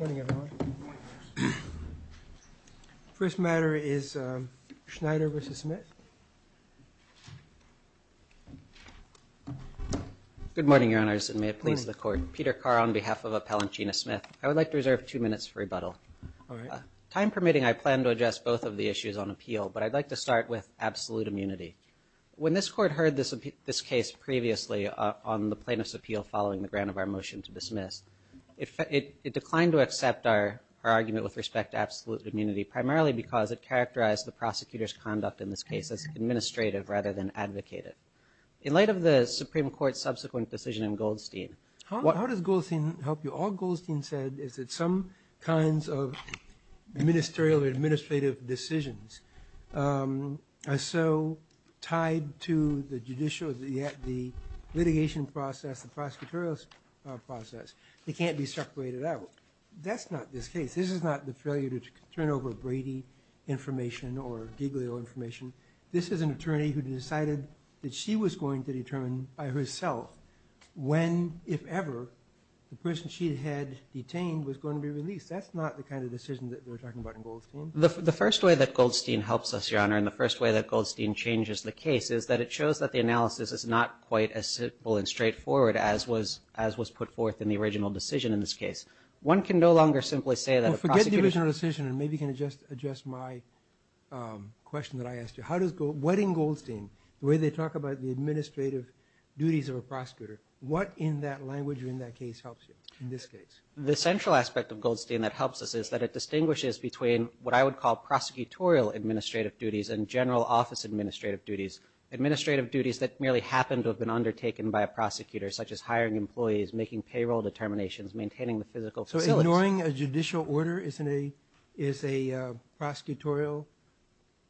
Good morning everyone. First matter is Schneyder v. Smith. I would like to reserve two minutes for rebuttal. Time permitting, I plan to address both of the issues on appeal, but I'd like to start with absolute immunity. When this court heard this case previously on the plaintiff's appeal following the grant of our motion to dismiss, it declined to accept our argument with respect to absolute immunity, primarily because it characterized the prosecutor's conduct in this case as administrative rather than advocated. In light of the Supreme Court's subsequent decision in Goldstein, what- How does Goldstein help you? All Goldstein said is that some kinds of ministerial or administrative decisions are so tied to the judicial, the litigation process, the prosecutorial process, they can't be separated out. That's not this case. This is not the failure to turn over Brady information or Giglio information. This is an attorney who decided that she was going to determine by herself when, if ever, the person she had detained was going to be released. That's not the kind of decision that they're talking about in Goldstein. The first way that Goldstein helps us, Your Honor, and the first way that Goldstein changes the case is that it shows that the analysis is not quite as simple and straightforward as was put forth in the original decision in this case. One can no longer simply say that a prosecutor- Well, forget the original decision, and maybe you can adjust my question that I asked you. How does- What in Goldstein, the way they talk about the administrative duties of a prosecutor, what in that language or in that case helps you in this case? The central aspect of Goldstein that helps us is that it distinguishes between what I would call prosecutorial administrative duties and general office administrative duties. Administrative duties that merely happen to have been undertaken by a prosecutor, such as hiring employees, making payroll determinations, maintaining the physical facilities. So ignoring a judicial order is a prosecutorial-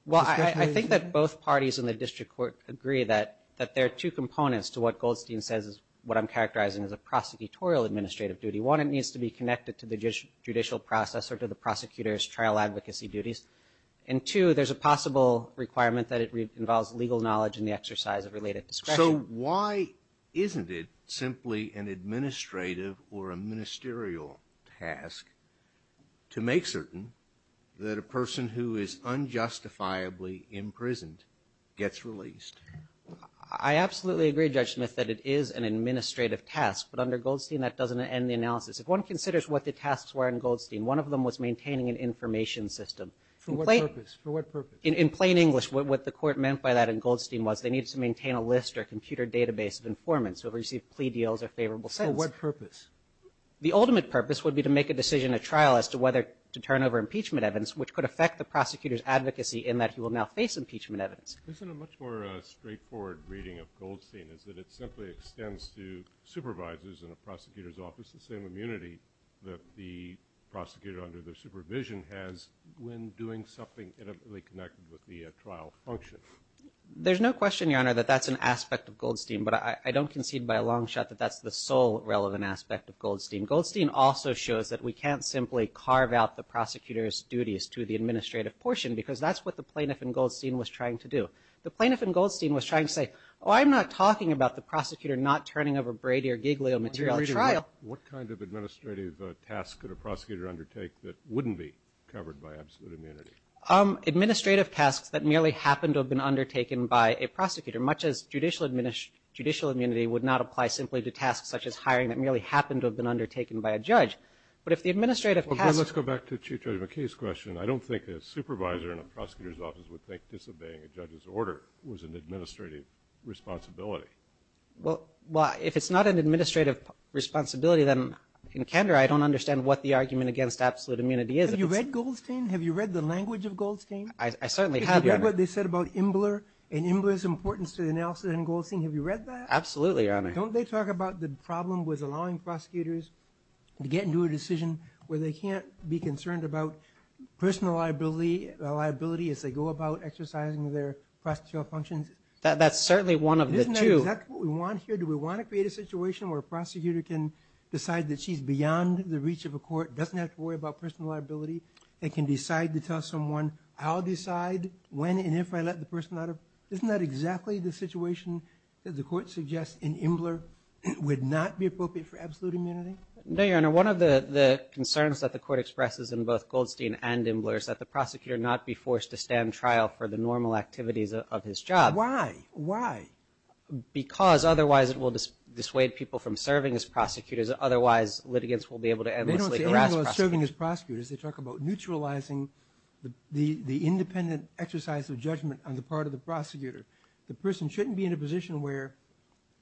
Well, I think that both parties in the district court agree that there are two components to what Goldstein says is what I'm characterizing as a prosecutorial administrative duty. One, it needs to be connected to the judicial process or to the prosecutor's trial advocacy duties, and two, there's a possible requirement that it involves legal knowledge in the exercise of related discretion. So why isn't it simply an administrative or a ministerial task to make certain that a person who is unjustifiably imprisoned gets released? I absolutely agree, Judge Smith, that it is an administrative task, but under Goldstein that doesn't end the analysis. If one considers what the tasks were in Goldstein, one of them was maintaining an information system. For what purpose? For what purpose? In plain English, what the court meant by that in Goldstein was they needed to maintain a list or computer database of informants who have received plea deals or favorable sentences. For what purpose? The ultimate purpose would be to make a decision at trial as to whether to turn over impeachment evidence, which could affect the prosecutor's advocacy in that he will now face impeachment evidence. Isn't a much more straightforward reading of Goldstein is that it simply extends to supervisors in a prosecutor's office the same immunity that the prosecutor under their supervision has when doing something intimately connected with the trial function? There's no question, Your Honor, that that's an aspect of Goldstein, but I don't concede by a long shot that that's the sole relevant aspect of Goldstein. Goldstein also shows that we can't simply carve out the prosecutor's duties to the administrative portion because that's what the plaintiff in Goldstein was trying to do. The plaintiff in Goldstein was trying to say, oh, I'm not talking about the prosecutor not turning over Brady or Giglio material at trial. What kind of administrative task could a prosecutor undertake that wouldn't be covered by absolute immunity? Administrative tasks that merely happened to have been undertaken by a prosecutor, much as judicial immunity would not apply simply to tasks such as hiring that merely happened to have been undertaken by a judge. But if the administrative task... Let's go back to Chief Judge McKay's question. I don't think a supervisor in a prosecutor's office would think disobeying a judge's order was an administrative responsibility. Well, if it's not an administrative responsibility, then in candor, I don't understand what the argument against absolute immunity is. Have you read Goldstein? Have you read the language of Goldstein? I certainly have, Your Honor. Have you read what they said about Imbler and Imbler's importance to the Nelson and Goldstein? Have you read that? Absolutely, Your Honor. Don't they talk about the problem with allowing prosecutors to get into a decision where they can't be concerned about personal liability as they go about exercising their prosecutorial functions? That's certainly one of the two. Isn't that exactly what we want here? Do we want to create a situation where a prosecutor can decide that she's beyond the reach of I'll decide to tell someone, I'll decide when and if I let the person out of, isn't that exactly the situation that the court suggests in Imbler would not be appropriate for absolute immunity? No, Your Honor. One of the concerns that the court expresses in both Goldstein and Imbler is that the prosecutor not be forced to stand trial for the normal activities of his job. Why? Why? Because otherwise it will dissuade people from serving as prosecutors. Otherwise litigants will be able to endlessly harass prosecutors. They don't say Imbler is serving as prosecutors. They talk about neutralizing the independent exercise of judgment on the part of the prosecutor. The person shouldn't be in a position where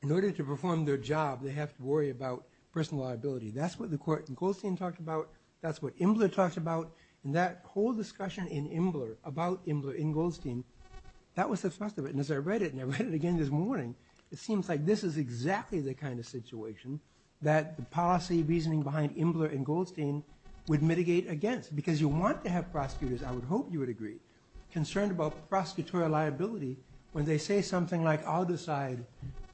in order to perform their job, they have to worry about personal liability. That's what the court in Goldstein talked about. That's what Imbler talked about and that whole discussion in Imbler about Imbler in Goldstein, that was the first of it. And as I read it and I read it again this morning, it seems like this is exactly the kind of situation that the policy reasoning behind Imbler in Goldstein would mitigate against. Because you want to have prosecutors, I would hope you would agree, concerned about prosecutorial liability when they say something like, I'll decide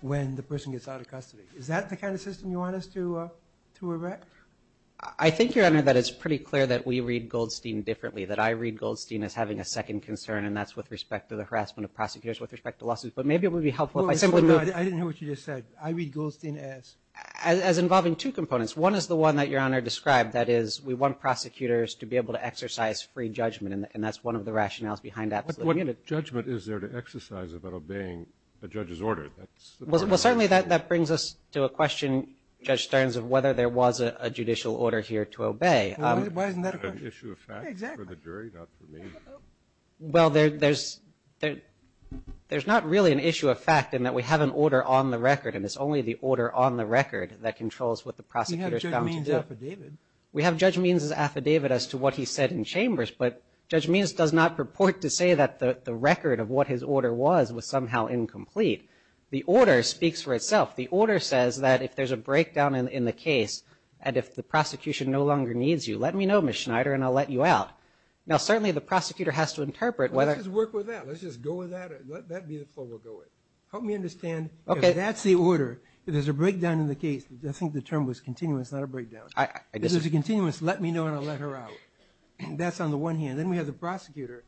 when the person gets out of custody. Is that the kind of system you want us to erect? I think, Your Honor, that it's pretty clear that we read Goldstein differently. That I read Goldstein as having a second concern and that's with respect to the harassment of prosecutors, with respect to lawsuits. But maybe it would be helpful if I simply move. I didn't hear what you just said. I read Goldstein as? As involving two components. One is the one that Your Honor described. That is, we want prosecutors to be able to exercise free judgment and that's one of the rationales behind that. What judgment is there to exercise about obeying a judge's order? Well, certainly that brings us to a question, Judge Stearns, of whether there was a judicial order here to obey. Why isn't that a question? An issue of fact for the jury, not for me. Well, there's not really an issue of fact in that we have an order on the record and it's only the order on the record that controls what the prosecutor is bound to do. We have Judge Means' affidavit. We have Judge Means' affidavit as to what he said in Chambers, but Judge Means does not purport to say that the record of what his order was was somehow incomplete. The order speaks for itself. The order says that if there's a breakdown in the case and if the prosecution no longer needs you, let me know, Ms. Schneider, and I'll let you out. Now, certainly, the prosecutor has to interpret whether- Let's just work with that. Let's just go with that. Let that be the flow we'll go with. Help me understand. Okay. That's the order. If there's a breakdown in the case, I think the term was continuous, not a breakdown. If there's a continuous, let me know and I'll let her out. That's on the one hand. Then we have the prosecutor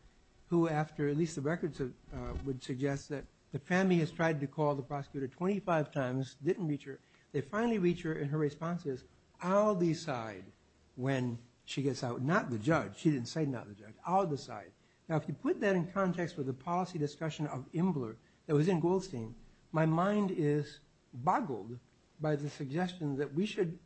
who, after at least the records would suggest that the family has tried to call the prosecutor 25 times, didn't reach her. They finally reach her and her response is, I'll decide when she gets out. Not the judge. She didn't say not the judge. I'll decide. Now, if you put that in context with the policy discussion of Imbler that was in Goldstein, my mind is boggled by the suggestion that we should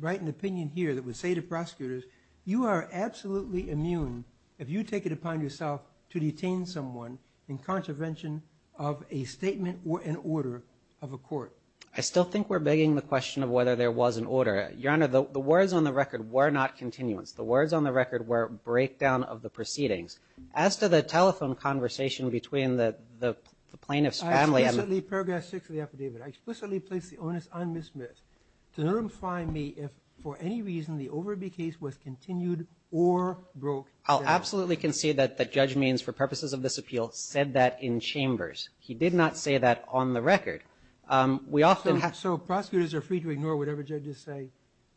write an opinion here that would say to prosecutors, you are absolutely immune if you take it upon yourself to detain someone in contravention of a statement or an order of a court. I still think we're begging the question of whether there was an order. Your Honor, the words on the record were not continuance. The words on the record were breakdown of the proceedings. I explicitly, paragraph six of the affidavit, I explicitly place the onus on Ms. Smith to notify me if for any reason the Overby case was continued or broke. I'll absolutely concede that the judge means for purposes of this appeal said that in chambers. He did not say that on the record. We often have- So prosecutors are free to ignore whatever judges say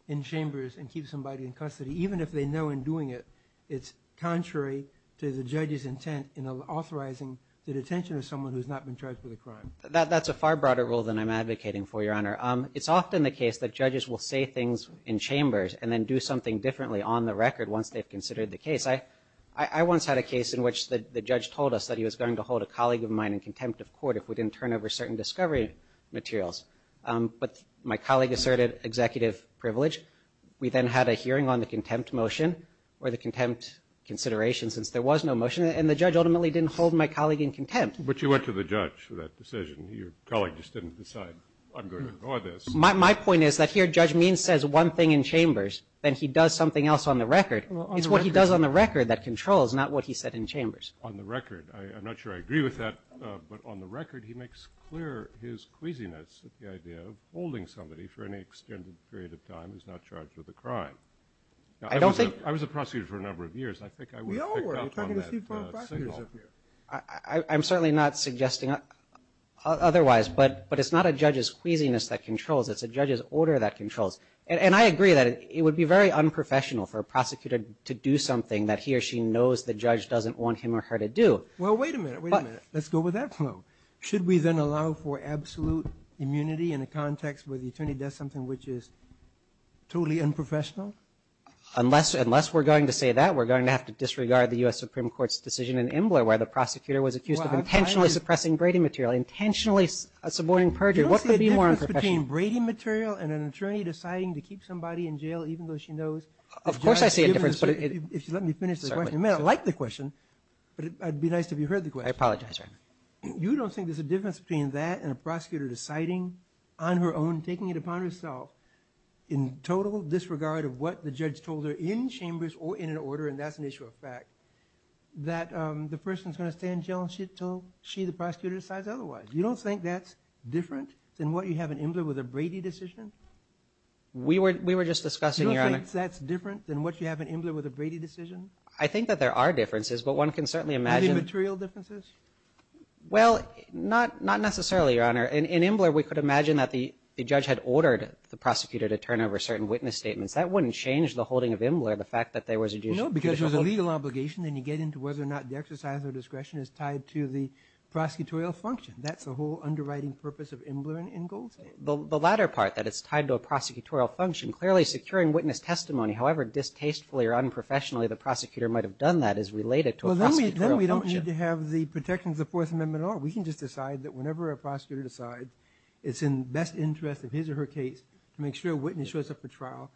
in chambers and keep somebody in custody, even if they know in doing it, it's contrary to the judge's intent in authorizing the detention of someone who's not been charged with a crime. That's a far broader rule than I'm advocating for, Your Honor. It's often the case that judges will say things in chambers and then do something differently on the record once they've considered the case. I once had a case in which the judge told us that he was going to hold a colleague of mine in contempt of court if we didn't turn over certain discovery materials. But my colleague asserted executive privilege. We then had a hearing on the contempt motion or the contempt consideration since there was no motion. And the judge ultimately didn't hold my colleague in contempt. But you went to the judge for that decision. Your colleague just didn't decide, I'm going to ignore this. My point is that here, Judge Means says one thing in chambers, then he does something else on the record. It's what he does on the record that controls, not what he said in chambers. On the record, I'm not sure I agree with that, but on the record, he makes clear his queasiness at the idea of holding somebody for any extended period of time who's not charged with a crime. I don't think- I was a prosecutor for a number of years. I think I would have picked up on that signal. We all were. You're talking to Steve Brown, a prosecutor up here. I'm certainly not suggesting otherwise, but it's not a judge's queasiness that controls. It's a judge's order that controls. And I agree that it would be very unprofessional for a prosecutor to do something that he or she knows the judge doesn't want him or her to do. Well, wait a minute. Wait a minute. Let's go with that flow. Should we then allow for absolute immunity in a context where the attorney does something which is totally unprofessional? Unless we're going to say that, we're going to have to disregard the U.S. Supreme Court ruling that a prosecutor was accused of intentionally suppressing braiding material, intentionally subordinating perjury. What could be more unprofessional? You don't see a difference between braiding material and an attorney deciding to keep somebody in jail even though she knows- Of course I see a difference, but if you let me finish this question. I mean, I like the question, but it would be nice if you heard the question. I apologize, Your Honor. You don't think there's a difference between that and a prosecutor deciding on her own, taking it upon herself, in total disregard of what the judge told her in case that's an issue of fact, that the person's going to stay in jail until she, the prosecutor, decides otherwise? You don't think that's different than what you have in Imbler with a Brady decision? We were just discussing, Your Honor- You don't think that's different than what you have in Imbler with a Brady decision? I think that there are differences, but one can certainly imagine- Any material differences? Well, not necessarily, Your Honor. In Imbler, we could imagine that the judge had ordered the prosecutor to turn over certain witness statements. That wouldn't change the holding of Imbler, the fact that there was a judicial- No, because there's a legal obligation, and you get into whether or not the exercise of discretion is tied to the prosecutorial function. That's the whole underwriting purpose of Imbler in Goldstein. The latter part, that it's tied to a prosecutorial function, clearly securing witness testimony, however distastefully or unprofessionally the prosecutor might have done that, is related to a prosecutorial function. Well, then we don't need to have the protections of the Fourth Amendment at all. We can just decide that whenever a prosecutor decides it's in the best interest of his or her case to make sure a witness shows up for trial,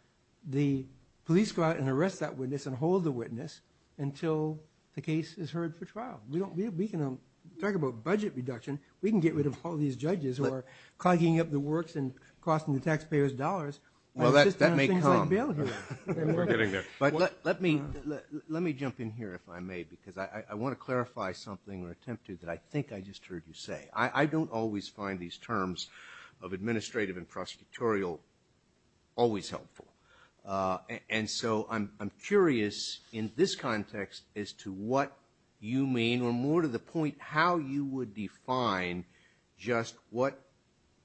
the police go out and arrest that witness and hold the witness until the case is heard for trial. We can talk about budget reduction. We can get rid of all these judges who are clogging up the works and costing the taxpayers dollars by insisting on things like bail hearing. But let me jump in here, if I may, because I want to clarify something or attempt to that I think I just heard you say. I don't always find these terms of administrative and prosecutorial always helpful. And so I'm curious in this context as to what you mean, or more to the point, how you would define just what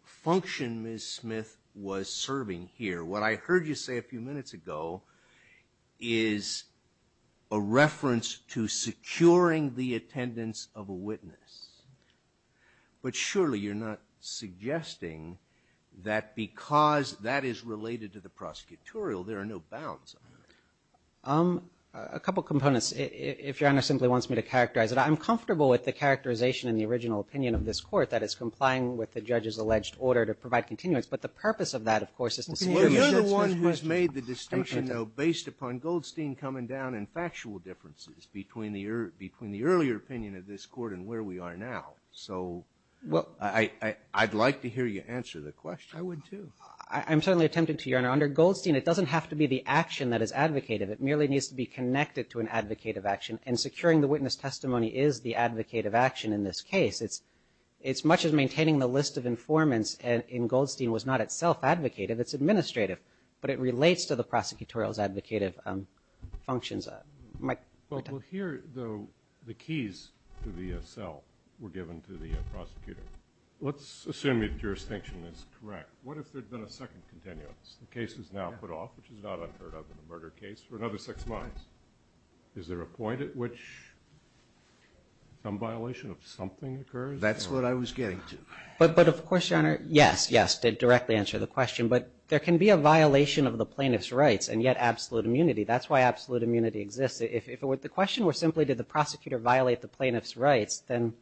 function Ms. Smith was serving here. What I heard you say a few minutes ago is a reference to securing the attendance of a witness, but surely you're not suggesting that because that is related to the prosecutorial, there are no bounds on that. A couple of components, if Your Honor simply wants me to characterize it. I'm comfortable with the characterization in the original opinion of this court that is complying with the judge's alleged order to provide continuance, but the purpose of that, of course, is to secure the attendance of a witness. Well, you're the one who's made the distinction, though, based upon Goldstein coming down and factual differences between the earlier opinion of this court and where we are now. So I'd like to hear you answer the question. I would, too. I'm certainly attempting to, Your Honor. Under Goldstein, it doesn't have to be the action that is advocated. It merely needs to be connected to an advocated action. And securing the witness testimony is the advocated action in this case. It's much as maintaining the list of informants in Goldstein was not itself advocated, it's administrative, but it relates to the prosecutorial's advocated functions. Well, here, though, the keys to the cell were given to the prosecutor. Let's assume your jurisdiction is correct. What if there'd been a second continuance? The case is now put off, which is not unheard of in a murder case, for another six months. Is there a point at which some violation of something occurs? That's what I was getting to. But, of course, Your Honor, yes, yes, to directly answer the question. But there can be a violation of the plaintiff's rights and yet absolute immunity. That's why absolute immunity exists. If the question were simply, did the prosecutor violate the plaintiff's rights, then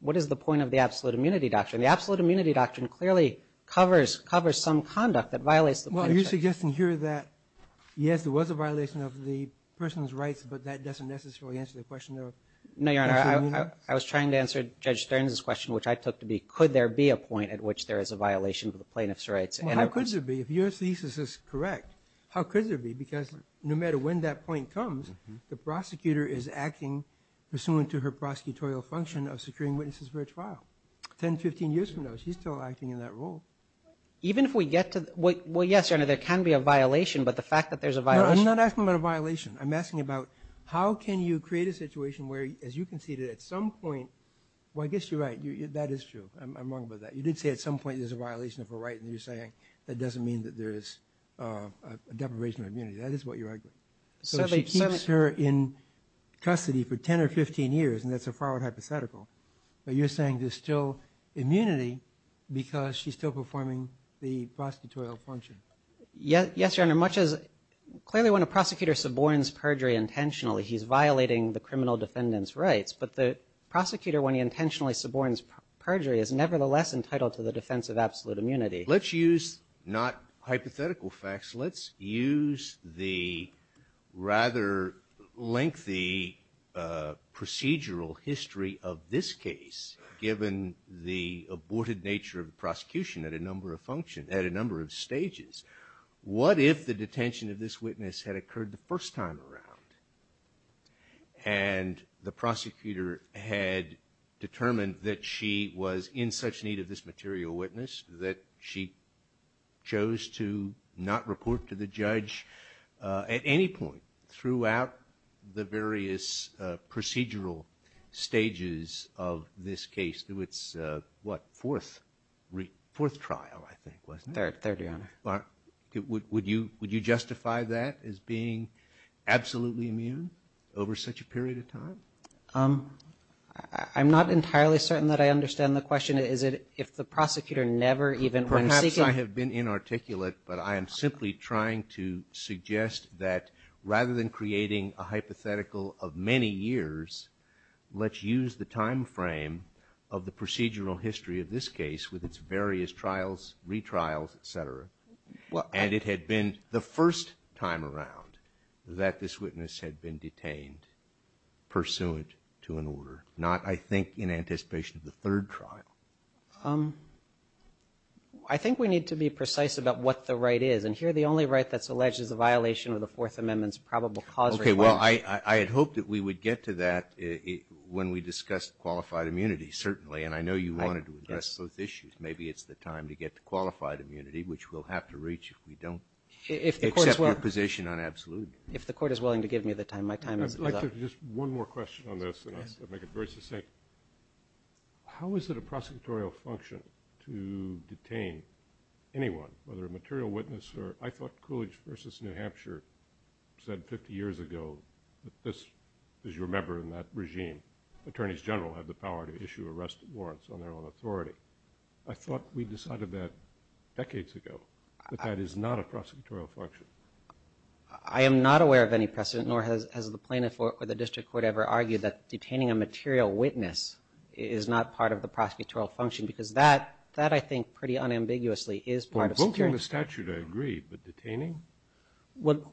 what is the point of the absolute immunity doctrine? The absolute immunity doctrine clearly covers some conduct that violates the plaintiff's rights. Well, you're suggesting here that, yes, there was a violation of the person's rights, but that doesn't necessarily answer the question of absolute immunity? No, Your Honor. I was trying to answer Judge Stearns' question, which I took to be, could there be a point at which there is a violation of the plaintiff's rights? Well, how could there be? If your thesis is correct, how could there be? Because no matter when that point comes, the prosecutor is acting pursuant to her prosecutorial function of securing witnesses for a trial. 10, 15 years from now, she's still acting in that role. Even if we get to, well, yes, Your Honor, there can be a violation, but the fact that there's a violation. No, I'm not asking about a violation. I'm asking about how can you create a situation where, as you conceded at some point, well, I guess you're right, that is true, I'm wrong about that. You did say at some point there's a violation of her right, and you're saying that doesn't mean that there is a deprivation of immunity. That is what you're arguing. So if she keeps her in custody for 10 or 15 years, and that's a forward hypothetical, but you're saying there's still immunity because she's still performing the prosecutorial function. Yes, Your Honor, clearly when a prosecutor suborns perjury intentionally, he's violating the criminal defendant's rights. But the prosecutor, when he intentionally suborns perjury, is nevertheless entitled to the defense of absolute immunity. Let's use not hypothetical facts. Let's use the rather lengthy procedural history of this case, given the aborted nature of the prosecution at a number of stages. What if the detention of this witness had occurred the first time around, and the prosecutor had determined that she was in such need of this material witness that she chose to not report to the judge at any point throughout the various procedural stages of this case? It was, what, fourth trial, I think, wasn't it? Third, Your Honor. Would you justify that as being absolutely immune over such a period of time? I'm not entirely certain that I understand the question. Is it if the prosecutor never even- Perhaps I have been inarticulate, but I am simply trying to suggest that rather than creating a hypothetical of many years, let's use the time frame of the procedural history of this case with its various trials, retrials, etc. And it had been the first time around that this witness had been detained pursuant to an order, not, I think, in anticipation of the third trial. I think we need to be precise about what the right is. And here, the only right that's alleged is a violation of the Fourth Amendment's probable cause- Okay, well, I had hoped that we would get to that when we discussed qualified immunity, certainly. And I know you wanted to address those issues. Maybe it's the time to get to qualified immunity, which we'll have to reach if we don't accept your position on absolute immunity. If the court is willing to give me the time, my time is up. I'd like to just one more question on this, and I'll make it very succinct. How is it a prosecutorial function to detain anyone, whether a material witness or, I thought Coolidge versus New Hampshire said 50 years ago that this, as you remember in that regime, attorneys general have the power to issue arrest warrants on their own authority. I thought we decided that decades ago, but that is not a prosecutorial function. I am not aware of any precedent, nor has the plaintiff or the district court ever argued that detaining a material witness is not part of the prosecutorial function, because that, that I think pretty unambiguously is part of securing- Well, both in the statute I agree, but detaining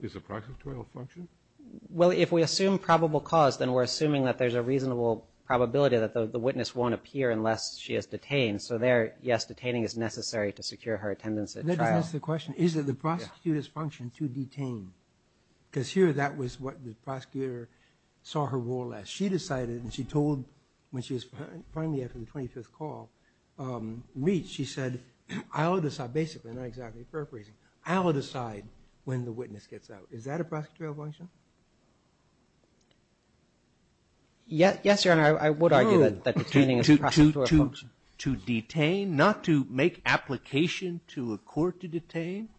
is a prosecutorial function? Well, if we assume probable cause, then we're assuming that there's a reasonable probability that the witness won't appear unless she is detained. That doesn't answer the question, is it the prosecutor's function to detain? Because here, that was what the prosecutor saw her role as. She decided, and she told, when she was finally, after the 25th call, reached, she said, I'll decide, basically, not exactly paraphrasing, I'll decide when the witness gets out. Is that a prosecutorial function? Yes, your honor, I would argue that detaining is a prosecutorial function. To detain, not to make application to a court to detain?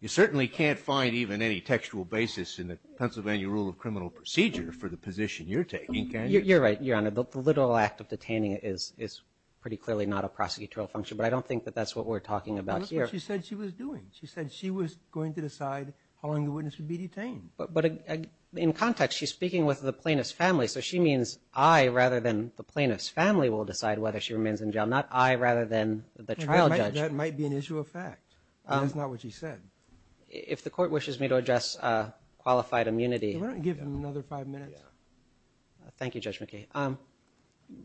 You certainly can't find even any textual basis in the Pennsylvania rule of criminal procedure for the position you're taking, can you? You're right, your honor. The literal act of detaining is pretty clearly not a prosecutorial function, but I don't think that that's what we're talking about here. That's what she said she was doing. She said she was going to decide how long the witness would be detained. But in context, she's speaking with the plaintiff's family, so she means I, rather than the plaintiff's family, will decide whether she remains in jail. Not I, rather than the trial judge. That might be an issue of fact. That's not what she said. If the court wishes me to address qualified immunity. Why don't you give him another five minutes? Thank you, Judge McKee.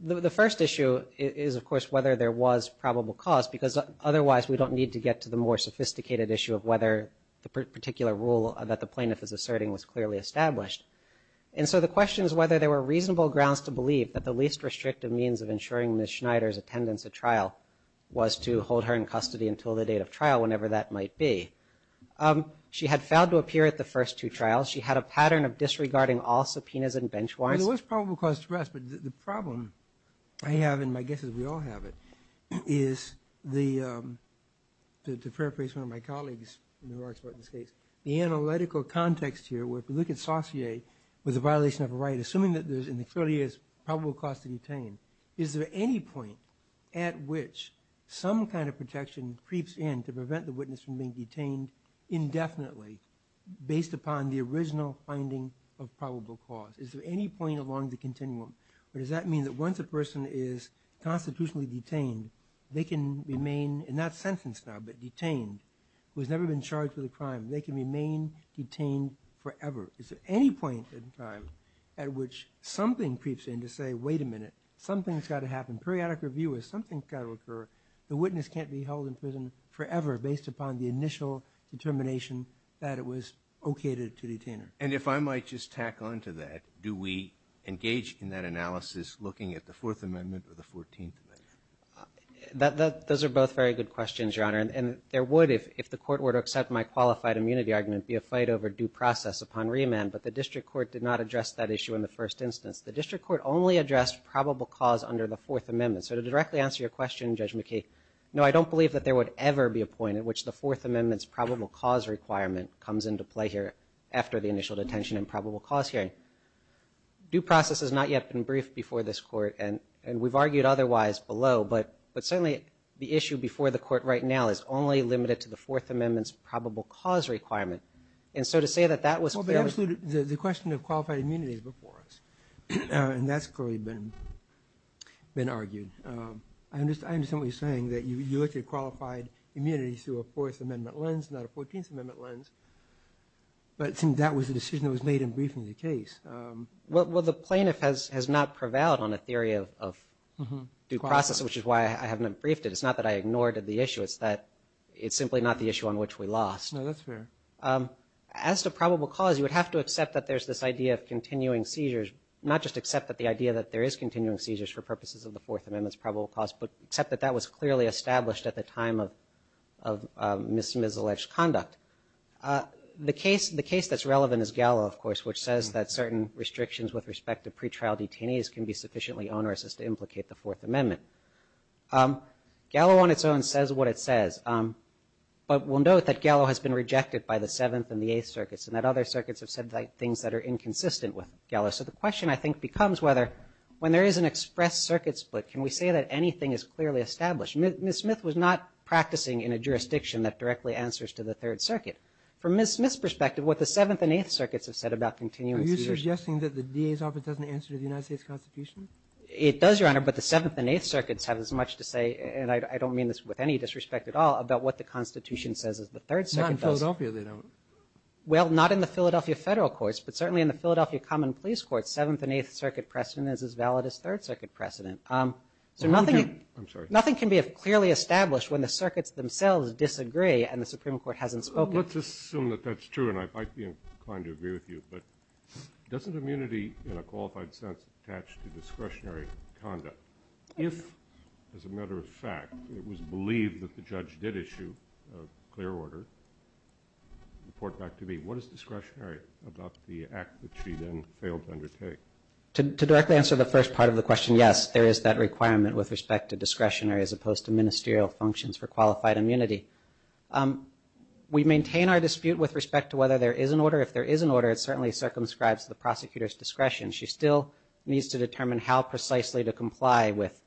The first issue is, of course, whether there was probable cause, because otherwise we don't need to get to the more sophisticated issue of whether the particular rule that the plaintiff is asserting was clearly established. And so the question is whether there were reasonable grounds to believe that the least restrictive means of ensuring Ms. Schneider's attendance at trial was to hold her in custody until the date of trial, whenever that might be. She had failed to appear at the first two trials. She had a pattern of disregarding all subpoenas and bench warrants. Well, there was probable cause to rest, but the problem I have, and my guess is we all have it, is the, to paraphrase one of my colleagues, the analytical context here, where if you look at Saussure with a violation of a right, assuming that there's in the 30 years probable cause to detain, is there any point at which some kind of protection creeps in to prevent the witness from being detained indefinitely based upon the original finding of probable cause? Is there any point along the continuum? Or does that mean that once a person is constitutionally detained, they can remain, and not sentenced now, but detained? Who's never been charged with a crime, they can remain detained forever. Is there any point in time at which something creeps in to say, wait a minute. Something's gotta happen. Periodic review is something's gotta occur. The witness can't be held in prison forever based upon the initial determination that it was okayed to detain her. And if I might just tack on to that, do we engage in that analysis looking at the Fourth Amendment or the Fourteenth Amendment? Those are both very good questions, Your Honor. And there would, if the court were to accept my qualified immunity argument, be a fight over due process upon remand. But the district court did not address that issue in the first instance. The district court only addressed probable cause under the Fourth Amendment. So to directly answer your question, Judge McKee, no, I don't believe that there would ever be a point at which the Fourth Amendment's probable cause requirement comes into play here after the initial detention and probable cause hearing. Due process has not yet been briefed before this court, and we've argued otherwise below. But certainly, the issue before the court right now is only limited to the Fourth Amendment's probable cause requirement. And so to say that that was fairly- Well, but absolutely, the question of qualified immunity is before us. And that's clearly been argued. I understand what you're saying, that you looked at qualified immunity through a Fourth Amendment lens, not a Fourteenth Amendment lens. But it seems that was the decision that was made in briefing the case. Well, the plaintiff has not prevailed on a theory of due process, which is why I haven't briefed it. It's not that I ignored the issue. It's that it's simply not the issue on which we lost. No, that's fair. As to probable cause, you would have to accept that there's this idea of continuing seizures, not just accept that the idea that there is continuing seizures for purposes of the Fourth Amendment's probable cause, but accept that that was clearly established at the time of misalleged conduct. The case that's relevant is Gallo, of course, which says that certain restrictions with respect to pretrial detainees can be sufficiently onerous as to implicate the Fourth Amendment. Gallo on its own says what it says. But we'll note that Gallo has been rejected by the Seventh and the Eighth Circuits, and that other circuits have said things that are inconsistent with Gallo. So the question, I think, becomes whether, when there is an express circuit split, can we say that anything is clearly established? Ms. Smith was not practicing in a jurisdiction that directly answers to the Third Circuit. From Ms. Smith's perspective, what the Seventh and Eighth Circuits have said about continuing seizures- Are you suggesting that the DA's office doesn't answer to the United States Constitution? It does, Your Honor, but the Seventh and Eighth Circuits have as much to say, and I don't mean this with any disrespect at all, about what the Constitution says as the Third Circuit does. Not in Philadelphia, they don't. Well, not in the Philadelphia Federal Courts, but certainly in the Philadelphia Common Police Courts, Seventh and Eighth Circuit precedent is as valid as Third Circuit precedent. So nothing- I'm sorry. Nothing can be clearly established when the circuits themselves disagree and the Supreme Court hasn't spoken. Let's assume that that's true, and I might be inclined to agree with you, but doesn't immunity, in a qualified sense, attach to discretionary conduct? If, as a matter of fact, it was believed that the judge did issue a clear order, report back to me, what is discretionary about the act that she then failed to undertake? To directly answer the first part of the question, yes, there is that requirement with respect to discretionary as opposed to ministerial functions for qualified immunity. We maintain our dispute with respect to whether there is an order. If there is an order, it certainly circumscribes the prosecutor's discretion. She still needs to determine how precisely to comply with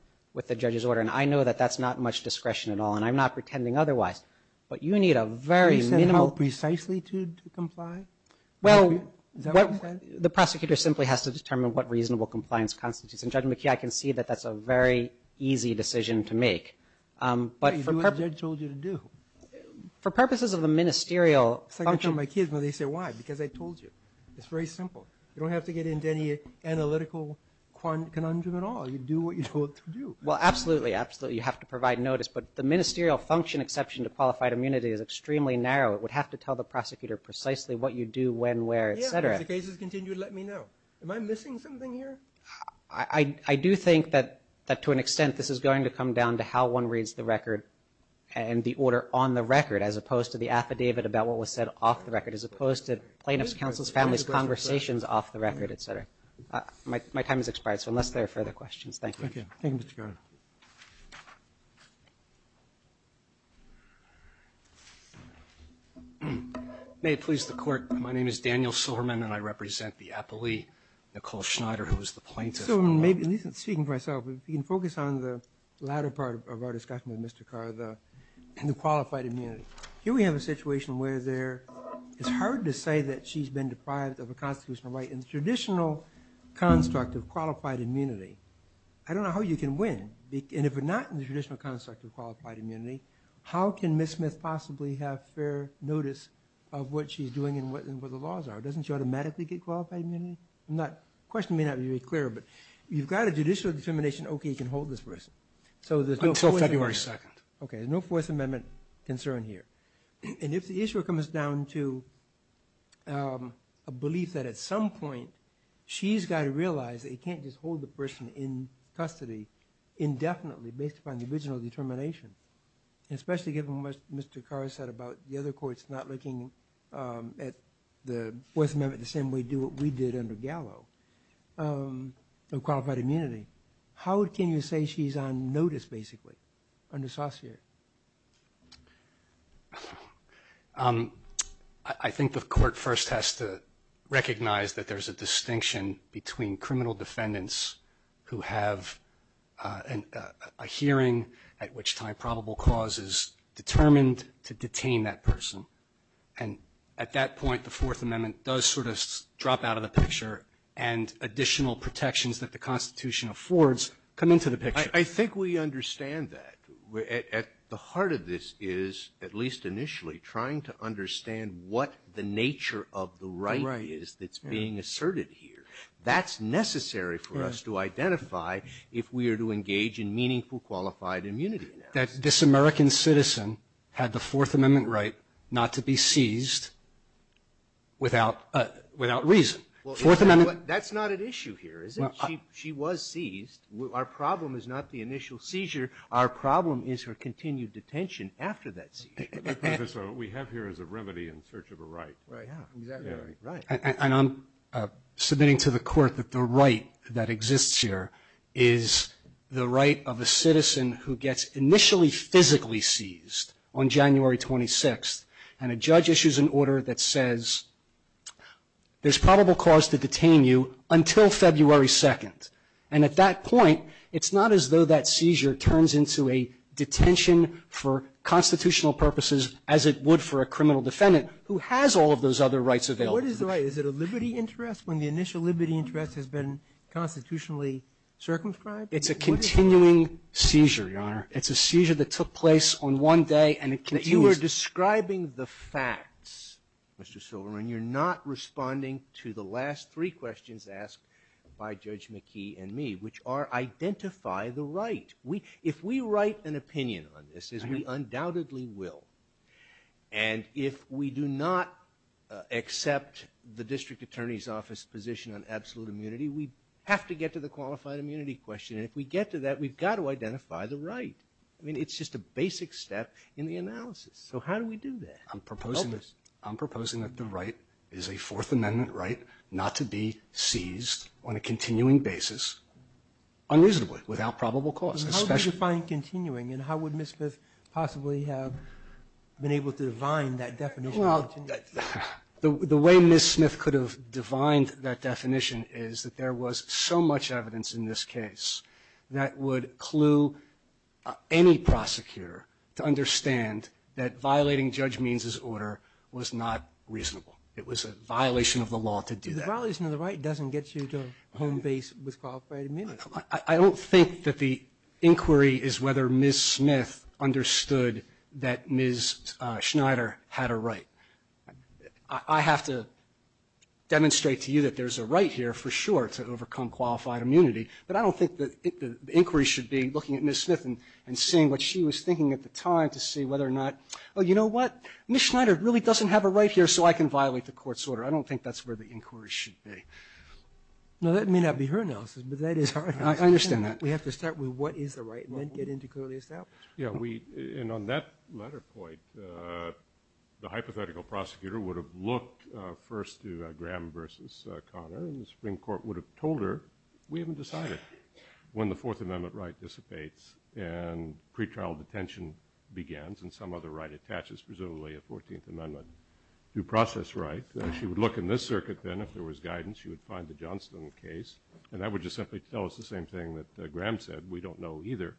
the judge's order. And I know that that's not much discretion at all, and I'm not pretending otherwise. But you need a very minimal- You said how precisely to comply? Well, the prosecutor simply has to determine what reasonable compliance constitutes. And, Judge McKee, I can see that that's a very easy decision to make. But for purposes- You do what the judge told you to do. For purposes of the ministerial- I tell my kids when they say, why? Because I told you. It's very simple. You don't have to get into any analytical conundrum at all. You do what you're told to do. Well, absolutely, absolutely. You have to provide notice. But the ministerial function exception to qualified immunity is extremely narrow. It would have to tell the prosecutor precisely what you do, when, where, etc. Yeah, if the case is continued, let me know. Am I missing something here? I do think that to an extent, this is going to come down to how one reads the record and the order on the record as opposed to the affidavit about what was said off the record, as opposed to plaintiff's counsel's family's conversations off the record, etc. My time has expired, so unless there are further questions, thank you. Thank you, Mr. Cardin. May it please the Court, my name is Daniel Silverman, and I represent the appellee, Nicole Schneider, who is the plaintiff. Speaking for myself, if you can focus on the latter part of our discussion with Mr. Cardin, the qualified immunity. Here we have a situation where it's hard to say that she's been deprived of a constitutional right in the traditional construct of qualified immunity. I don't know how you can win, and if we're not in the traditional construct of qualified immunity, how can Ms. Smith possibly have fair notice of what she's doing and what the laws are? Doesn't she automatically get qualified immunity? The question may not be very clear, but you've got a judicial determination, okay, you can hold this person. Until February 2nd. Okay, there's no Fourth Amendment concern here. And if the issue comes down to a belief that at some point she's got to realize that you can't just hold the person in custody indefinitely based upon the original determination, especially given what Mr. Carr said about the other courts not looking at the Fourth Amendment the same way we do what we did under Gallo, of qualified immunity, how can you say she's on notice basically under Saussure? I think the court first has to recognize that there's a distinction between criminal defendants who have a hearing at which time probable cause is determined to detain that person. And at that point, the Fourth Amendment does sort of drop out of the picture, and additional protections that the Constitution affords come into the picture. I think we understand that. At the heart of this is, at least initially, trying to understand what the nature of the right is that's being asserted here. That's necessary for us to identify if we are to engage in meaningful qualified immunity. That this American citizen had the Fourth Amendment right not to be seized without reason. Well, that's not an issue here, is it? She was seized. Our problem is not the initial seizure. Our problem is her continued detention after that seizure. Professor, what we have here is a remedy in search of a right. Right, yeah, exactly right. And I'm submitting to the court that the right that exists here is the right of a citizen who gets initially physically seized on January 26th, and a judge issues an order that says, there's probable cause to detain you until February 2nd. And at that point, it's not as though that seizure turns into a detention for constitutional purposes as it would for a criminal defendant who has all of those other rights available to them. What is the right? Is it a liberty interest when the initial liberty interest has been constitutionally circumscribed? It's a continuing seizure, Your Honor. It's a seizure that took place on one day, and it continues. But you are describing the facts, Mr. Silverman. You're not responding to the last three questions asked by Judge McKee and me, which are, identify the right. If we write an opinion on this, as we undoubtedly will, and if we do not accept the district attorney's office position on absolute immunity, we have to get to the qualified immunity question. And if we get to that, we've got to identify the right. I mean, it's just a basic step in the analysis. So how do we do that? I'm proposing that the right is a Fourth Amendment right not to be seized on a continuing basis, unusably, without probable cause. How do you define continuing, and how would Ms. Smith possibly have been able to define that definition of continuing? Well, the way Ms. Smith could have defined that definition is that there was so much evidence in this case that would clue any prosecutor to understand that violating Judge Means' order was not reasonable. It was a violation of the law to do that. The violation of the right doesn't get you to a home base with qualified immunity. I don't think that the inquiry is whether Ms. Smith understood that Ms. Schneider had a right. I have to demonstrate to you that there's a right here, for sure, to overcome qualified immunity. But I don't think the inquiry should be looking at Ms. Smith and seeing what she was Ms. Schneider really doesn't have a right here so I can violate the court's order. I don't think that's where the inquiry should be. Now, that may not be her analysis, but that is our analysis. I understand that. We have to start with what is the right and then get into clearly established. Yeah, and on that latter point, the hypothetical prosecutor would have looked first to Graham versus Connor, and the Supreme Court would have told her, we haven't decided. When the Fourth Amendment right dissipates and pretrial detention begins and some other right attaches, presumably a Fourteenth Amendment due process right, she would look in this circuit then if there was guidance, she would find the Johnston case, and that would just simply tell us the same thing that Graham said, we don't know either.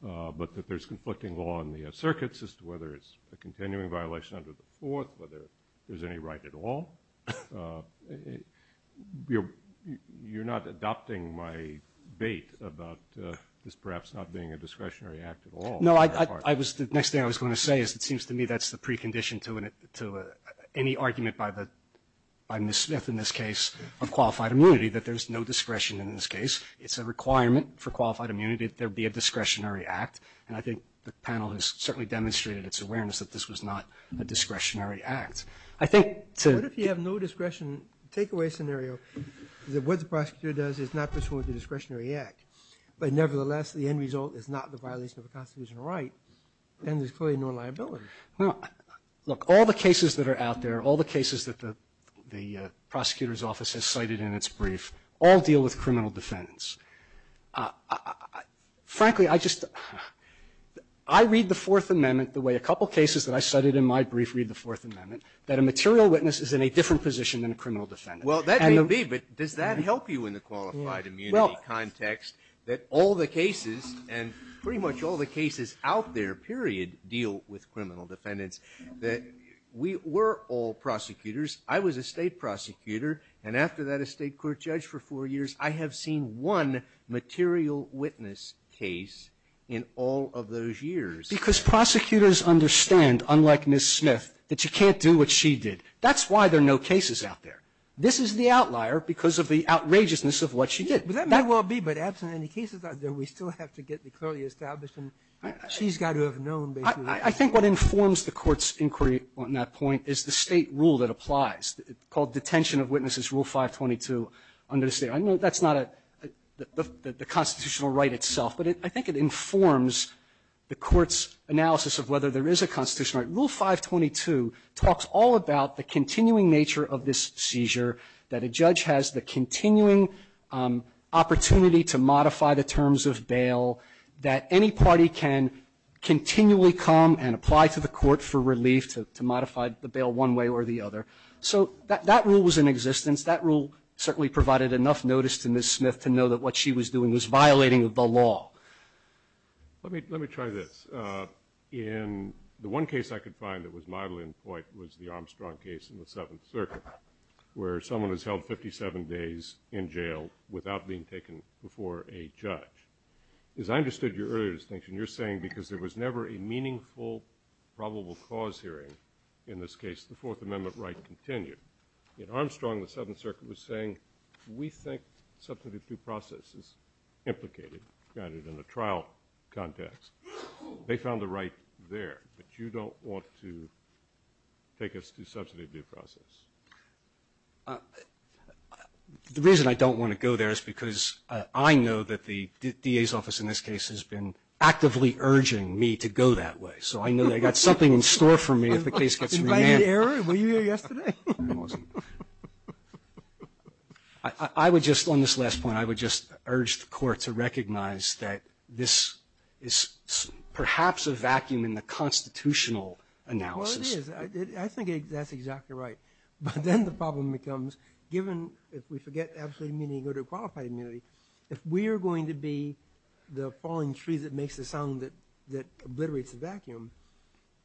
But that there's conflicting law in the circuits as to whether it's a continuing violation under the Fourth, whether there's any right at all. You're not adopting my bait about this perhaps not being a discretionary act at all. No, I was, the next thing I was going to say is it seems to me that's the precondition to any argument by Ms. Smith in this case of qualified immunity, that there's no discretion in this case. It's a requirement for qualified immunity that there be a discretionary act, and I think the panel has certainly demonstrated its awareness that this was not a discretionary act. I think to What if you have no discretion? The takeaway scenario is that what the prosecutor does is not pursuant to discretionary act. But nevertheless, the end result is not the violation of a constitutional right, then there's clearly no liability. Now, look, all the cases that are out there, all the cases that the prosecutor's office has cited in its brief all deal with criminal defendants. Frankly, I just, I read the Fourth Amendment the way a couple cases that I cited in my brief read the Fourth Amendment, that a material witness is in a different position than a criminal defendant. Well, that may be, but does that help you in the qualified immunity context? That all the cases, and pretty much all the cases out there, period, deal with criminal defendants, that we were all prosecutors. I was a State prosecutor, and after that a State court judge for four years. I have seen one material witness case in all of those years. Because prosecutors understand, unlike Ms. Smith, that you can't do what she did. That's why there are no cases out there. This is the outlier because of the outrageousness of what she did. But that may well be, but absent any cases out there, we still have to get the clearly established, and she's got to have known basically. I think what informs the Court's inquiry on that point is the State rule that applies, called detention of witnesses, Rule 522 under the State. I know that's not a, the constitutional right itself, but I think it informs the Court's analysis of whether there is a constitutional right. Rule 522 talks all about the continuing nature of this seizure, that a judge has the continuing opportunity to modify the terms of bail, that any party can continually come and apply to the Court for relief to modify the bail one way or the other. So that rule was in existence. That rule certainly provided enough notice to Ms. Smith to know that what she was doing was violating the law. Let me try this. In the one case I could find that was mildly in point was the Armstrong case in the days in jail without being taken before a judge. As I understood your earlier distinction, you're saying because there was never a meaningful probable cause hearing in this case, the Fourth Amendment right continued. In Armstrong, the Seventh Circuit was saying, we think substantive due process is implicated, got it, in a trial context. They found the right there, but you don't want to take us to substantive due process. The reason I don't want to go there is because I know that the D.A.'s office in this case has been actively urging me to go that way. So I know they've got something in store for me if the case gets remanded. Invited the error? Were you here yesterday? I was. I would just, on this last point, I would just urge the Court to recognize that this is perhaps a vacuum in the constitutional analysis. Well, it is. I think that's exactly right. But then the problem becomes, given, if we forget the absolute meaning, go to qualified immunity. If we are going to be the falling tree that makes the sound that obliterates the vacuum,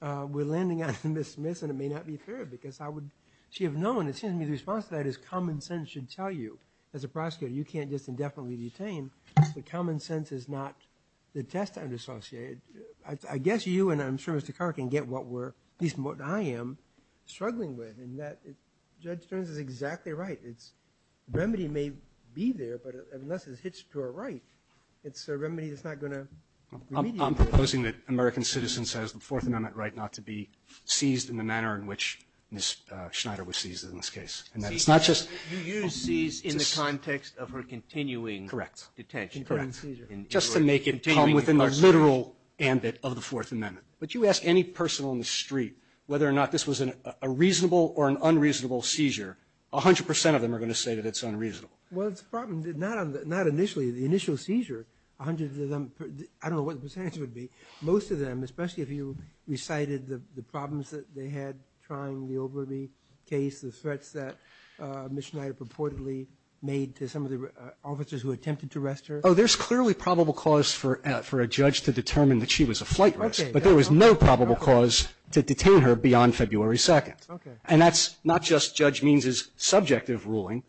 we're landing on Ms. Smith and it may not be fair because I would, she would know, and it seems to me the response to that is common sense should tell you, as a prosecutor, you can't just indefinitely detain. The common sense is not the test I'm associated. I guess you, and I'm sure Mr. Carr can get what we're, at least what I am, struggling with, and that Judge Stearns is exactly right. It's, remedy may be there, but unless it's hitched to our right, it's a remedy that's not going to be remedied. I'm proposing that American citizens has the Fourth Amendment right not to be seized in the manner in which Ms. Schneider was seized in this case. And that it's not just... You used seize in the context of her continuing... Correct. ...detention. Correct. Seizure. Just to make it come within the literal ambit of the Fourth Amendment. But you ask any person on the street whether or not this was a reasonable or an unreasonable seizure, a hundred percent of them are going to say that it's unreasonable. Well, the problem, not initially, the initial seizure, a hundred of them, I don't know what the percentage would be. Most of them, especially if you recited the problems that they had trying the Oberby case, the threats that Ms. Schneider purportedly made to some of the officers who attempted to arrest her. Oh, there's clearly probable cause for a judge to determine that she was a flight risk. Okay. But there was no probable cause to detain her beyond February 2nd. Okay. And that's not just Judge Means' subjective ruling.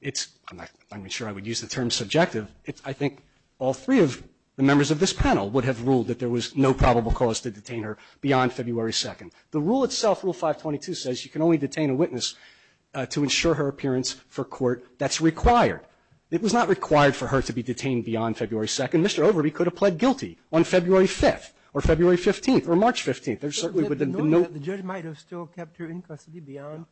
It's... I'm not even sure I would use the term subjective. I think all three of the members of this panel would have ruled that there was no probable cause to detain her beyond February 2nd. The rule itself, Rule 522, says you can only detain a witness to ensure her appearance for court that's required. It was not required for her to be detained beyond February 2nd. Mr. Oberby could have pled guilty on February 5th or February 15th or March 15th. There certainly would have been no... The judge might have still kept her in custody beyond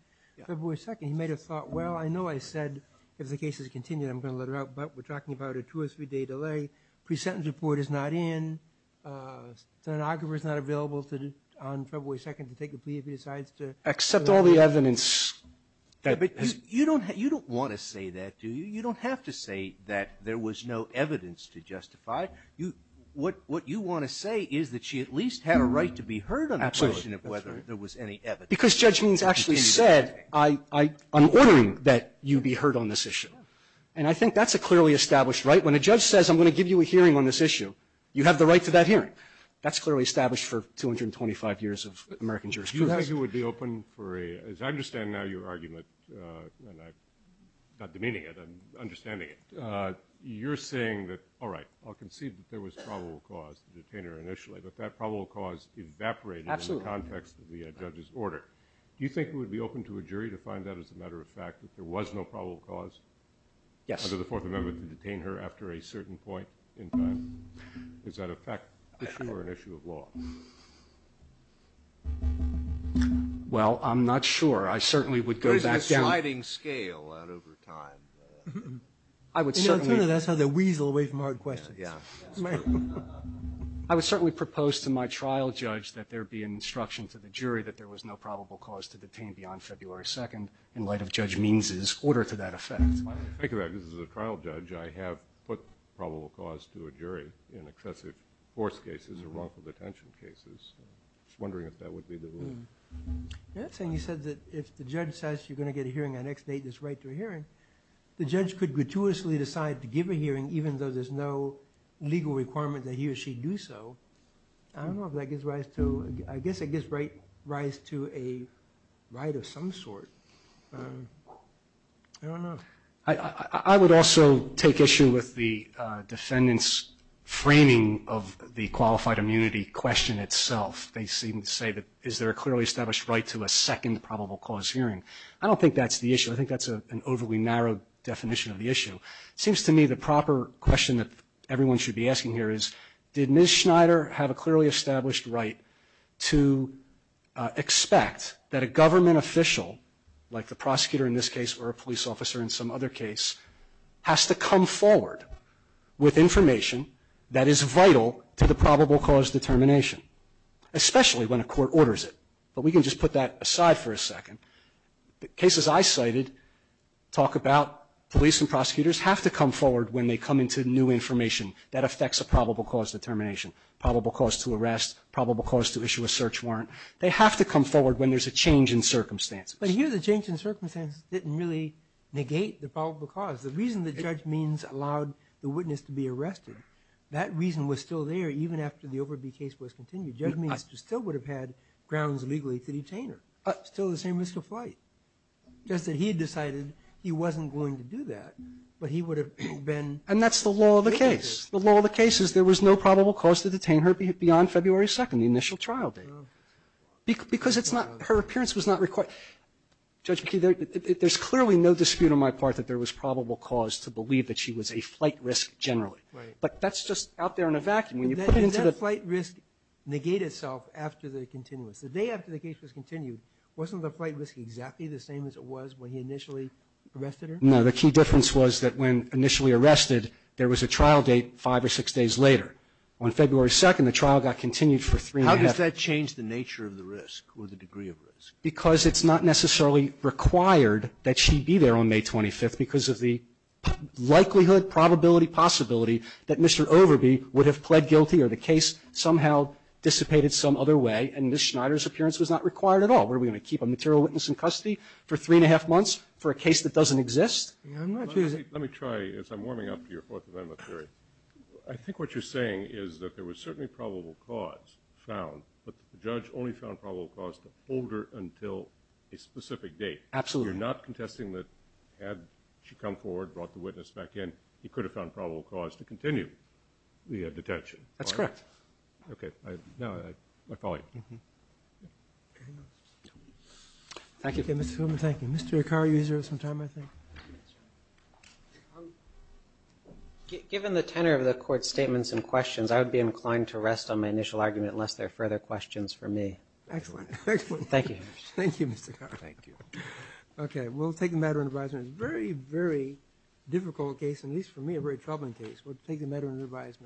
February 2nd. He might have thought, well, I know I said if the case is continued, I'm going to let her out. But we're talking about a two or three-day delay. Pre-sentence report is not in. A stenographer is not available on February 2nd to take a plea Except all the evidence that... You don't want to say that, do you? You don't have to say that there was no evidence to justify. What you want to say is that she at least had a right to be heard on the question of whether there was any evidence. Because Judge Means actually said, I'm ordering that you be heard on this issue. And I think that's a clearly established right. When a judge says, I'm going to give you a hearing on this issue, you have the right to that hearing. That's clearly established for 225 years of American jurisprudence. Do you think it would be open for a... And I'm not demeaning it, I'm understanding it. You're saying that, all right, I'll concede that there was probable cause to detain her initially, but that probable cause evaporated in the context of the judge's order. Do you think it would be open to a jury to find that as a matter of fact that there was no probable cause under the Fourth Amendment to detain her after a certain point in time? Is that a fact issue or an issue of law? Well, I'm not sure. I certainly would go back down... But it's a sliding scale out over time. I would certainly... That's how they weasel away from hard questions. I would certainly propose to my trial judge that there be an instruction to the jury that there was no probable cause to detain beyond February 2nd in light of Judge Means's order to that effect. I have put probable cause to a jury in excessive force cases or wrongful detention. I'm just wondering if that would be the ruling. You said that if the judge says you're going to get a hearing on X date and it's right to a hearing, the judge could gratuitously decide to give a hearing even though there's no legal requirement that he or she do so. I don't know if that gives rise to... I guess it gives rise to a right of some sort. I would also take issue with the defendant's framing of the qualified immunity question itself. They seem to say, is there a clearly established right to a second probable cause hearing? I don't think that's the issue. I think that's an overly narrow definition of the issue. It seems to me the proper question that everyone should be asking here is, did Ms. Schneider have a clearly established right to expect that a government official, like the prosecutor in this case or a police officer in some other case, has to come forward with information that is vital to the probable cause determination, especially when a court orders it. But we can just put that aside for a second. The cases I cited talk about police and prosecutors have to come forward when they come into new information that affects a probable cause determination, probable cause to arrest, probable cause to issue a search warrant. They have to come forward when there's a change in circumstances. But here the change in circumstances didn't really negate the probable cause. The reason the judge means allowed the witness to be arrested, that reason was still there even after the Overby case was continued. Judge means he still would have had grounds legally to detain her. Still the same risk of flight. Just that he had decided he wasn't going to do that, but he would have been... And that's the law of the case. The law of the case is there was no probable cause to detain her beyond February 2nd, the initial trial date. Because it's not, her appearance was not required. Judge McKee, there's clearly no dispute on my part that there was probable cause to believe that she was a flight risk generally. But that's just out there in a vacuum. When you put it into the... Did that flight risk negate itself after the continuous? The day after the case was continued, wasn't the flight risk exactly the same as it was when he initially arrested her? No, the key difference was that when initially arrested, there was a trial date five or six days later. On February 2nd, the trial got continued for three and a half... How does that change the nature of the risk or the degree of risk? Because it's not necessarily required that she be there on May 25th because of the likelihood, probability, possibility that Mr. Overby would have pled guilty or the case somehow dissipated some other way and Ms. Schneider's appearance was not required at all. What, are we going to keep a material witness in custody for three and a half months for a case that doesn't exist? Let me try, as I'm warming up to your Fourth Amendment theory. I think what you're saying is that there was certainly probable cause found, but the judge only found probable cause to hold her until a specific date. Absolutely. You're not contesting that had she come forward, brought the witness back in, he could have found probable cause to continue the detention. That's correct. Okay. Now, I follow you. Thank you. Okay, Mr. Fulman, thank you. Mr. Akari, you have some time, I think. Given the tenor of the Court's statements and questions, I would be inclined to rest on my initial argument unless there are further questions for me. Excellent. Thank you. Thank you, Mr. Akari. Thank you. Okay. We'll take the matter into advisement. It's a very, very difficult case, at least for me, a very troubling case. We'll take the matter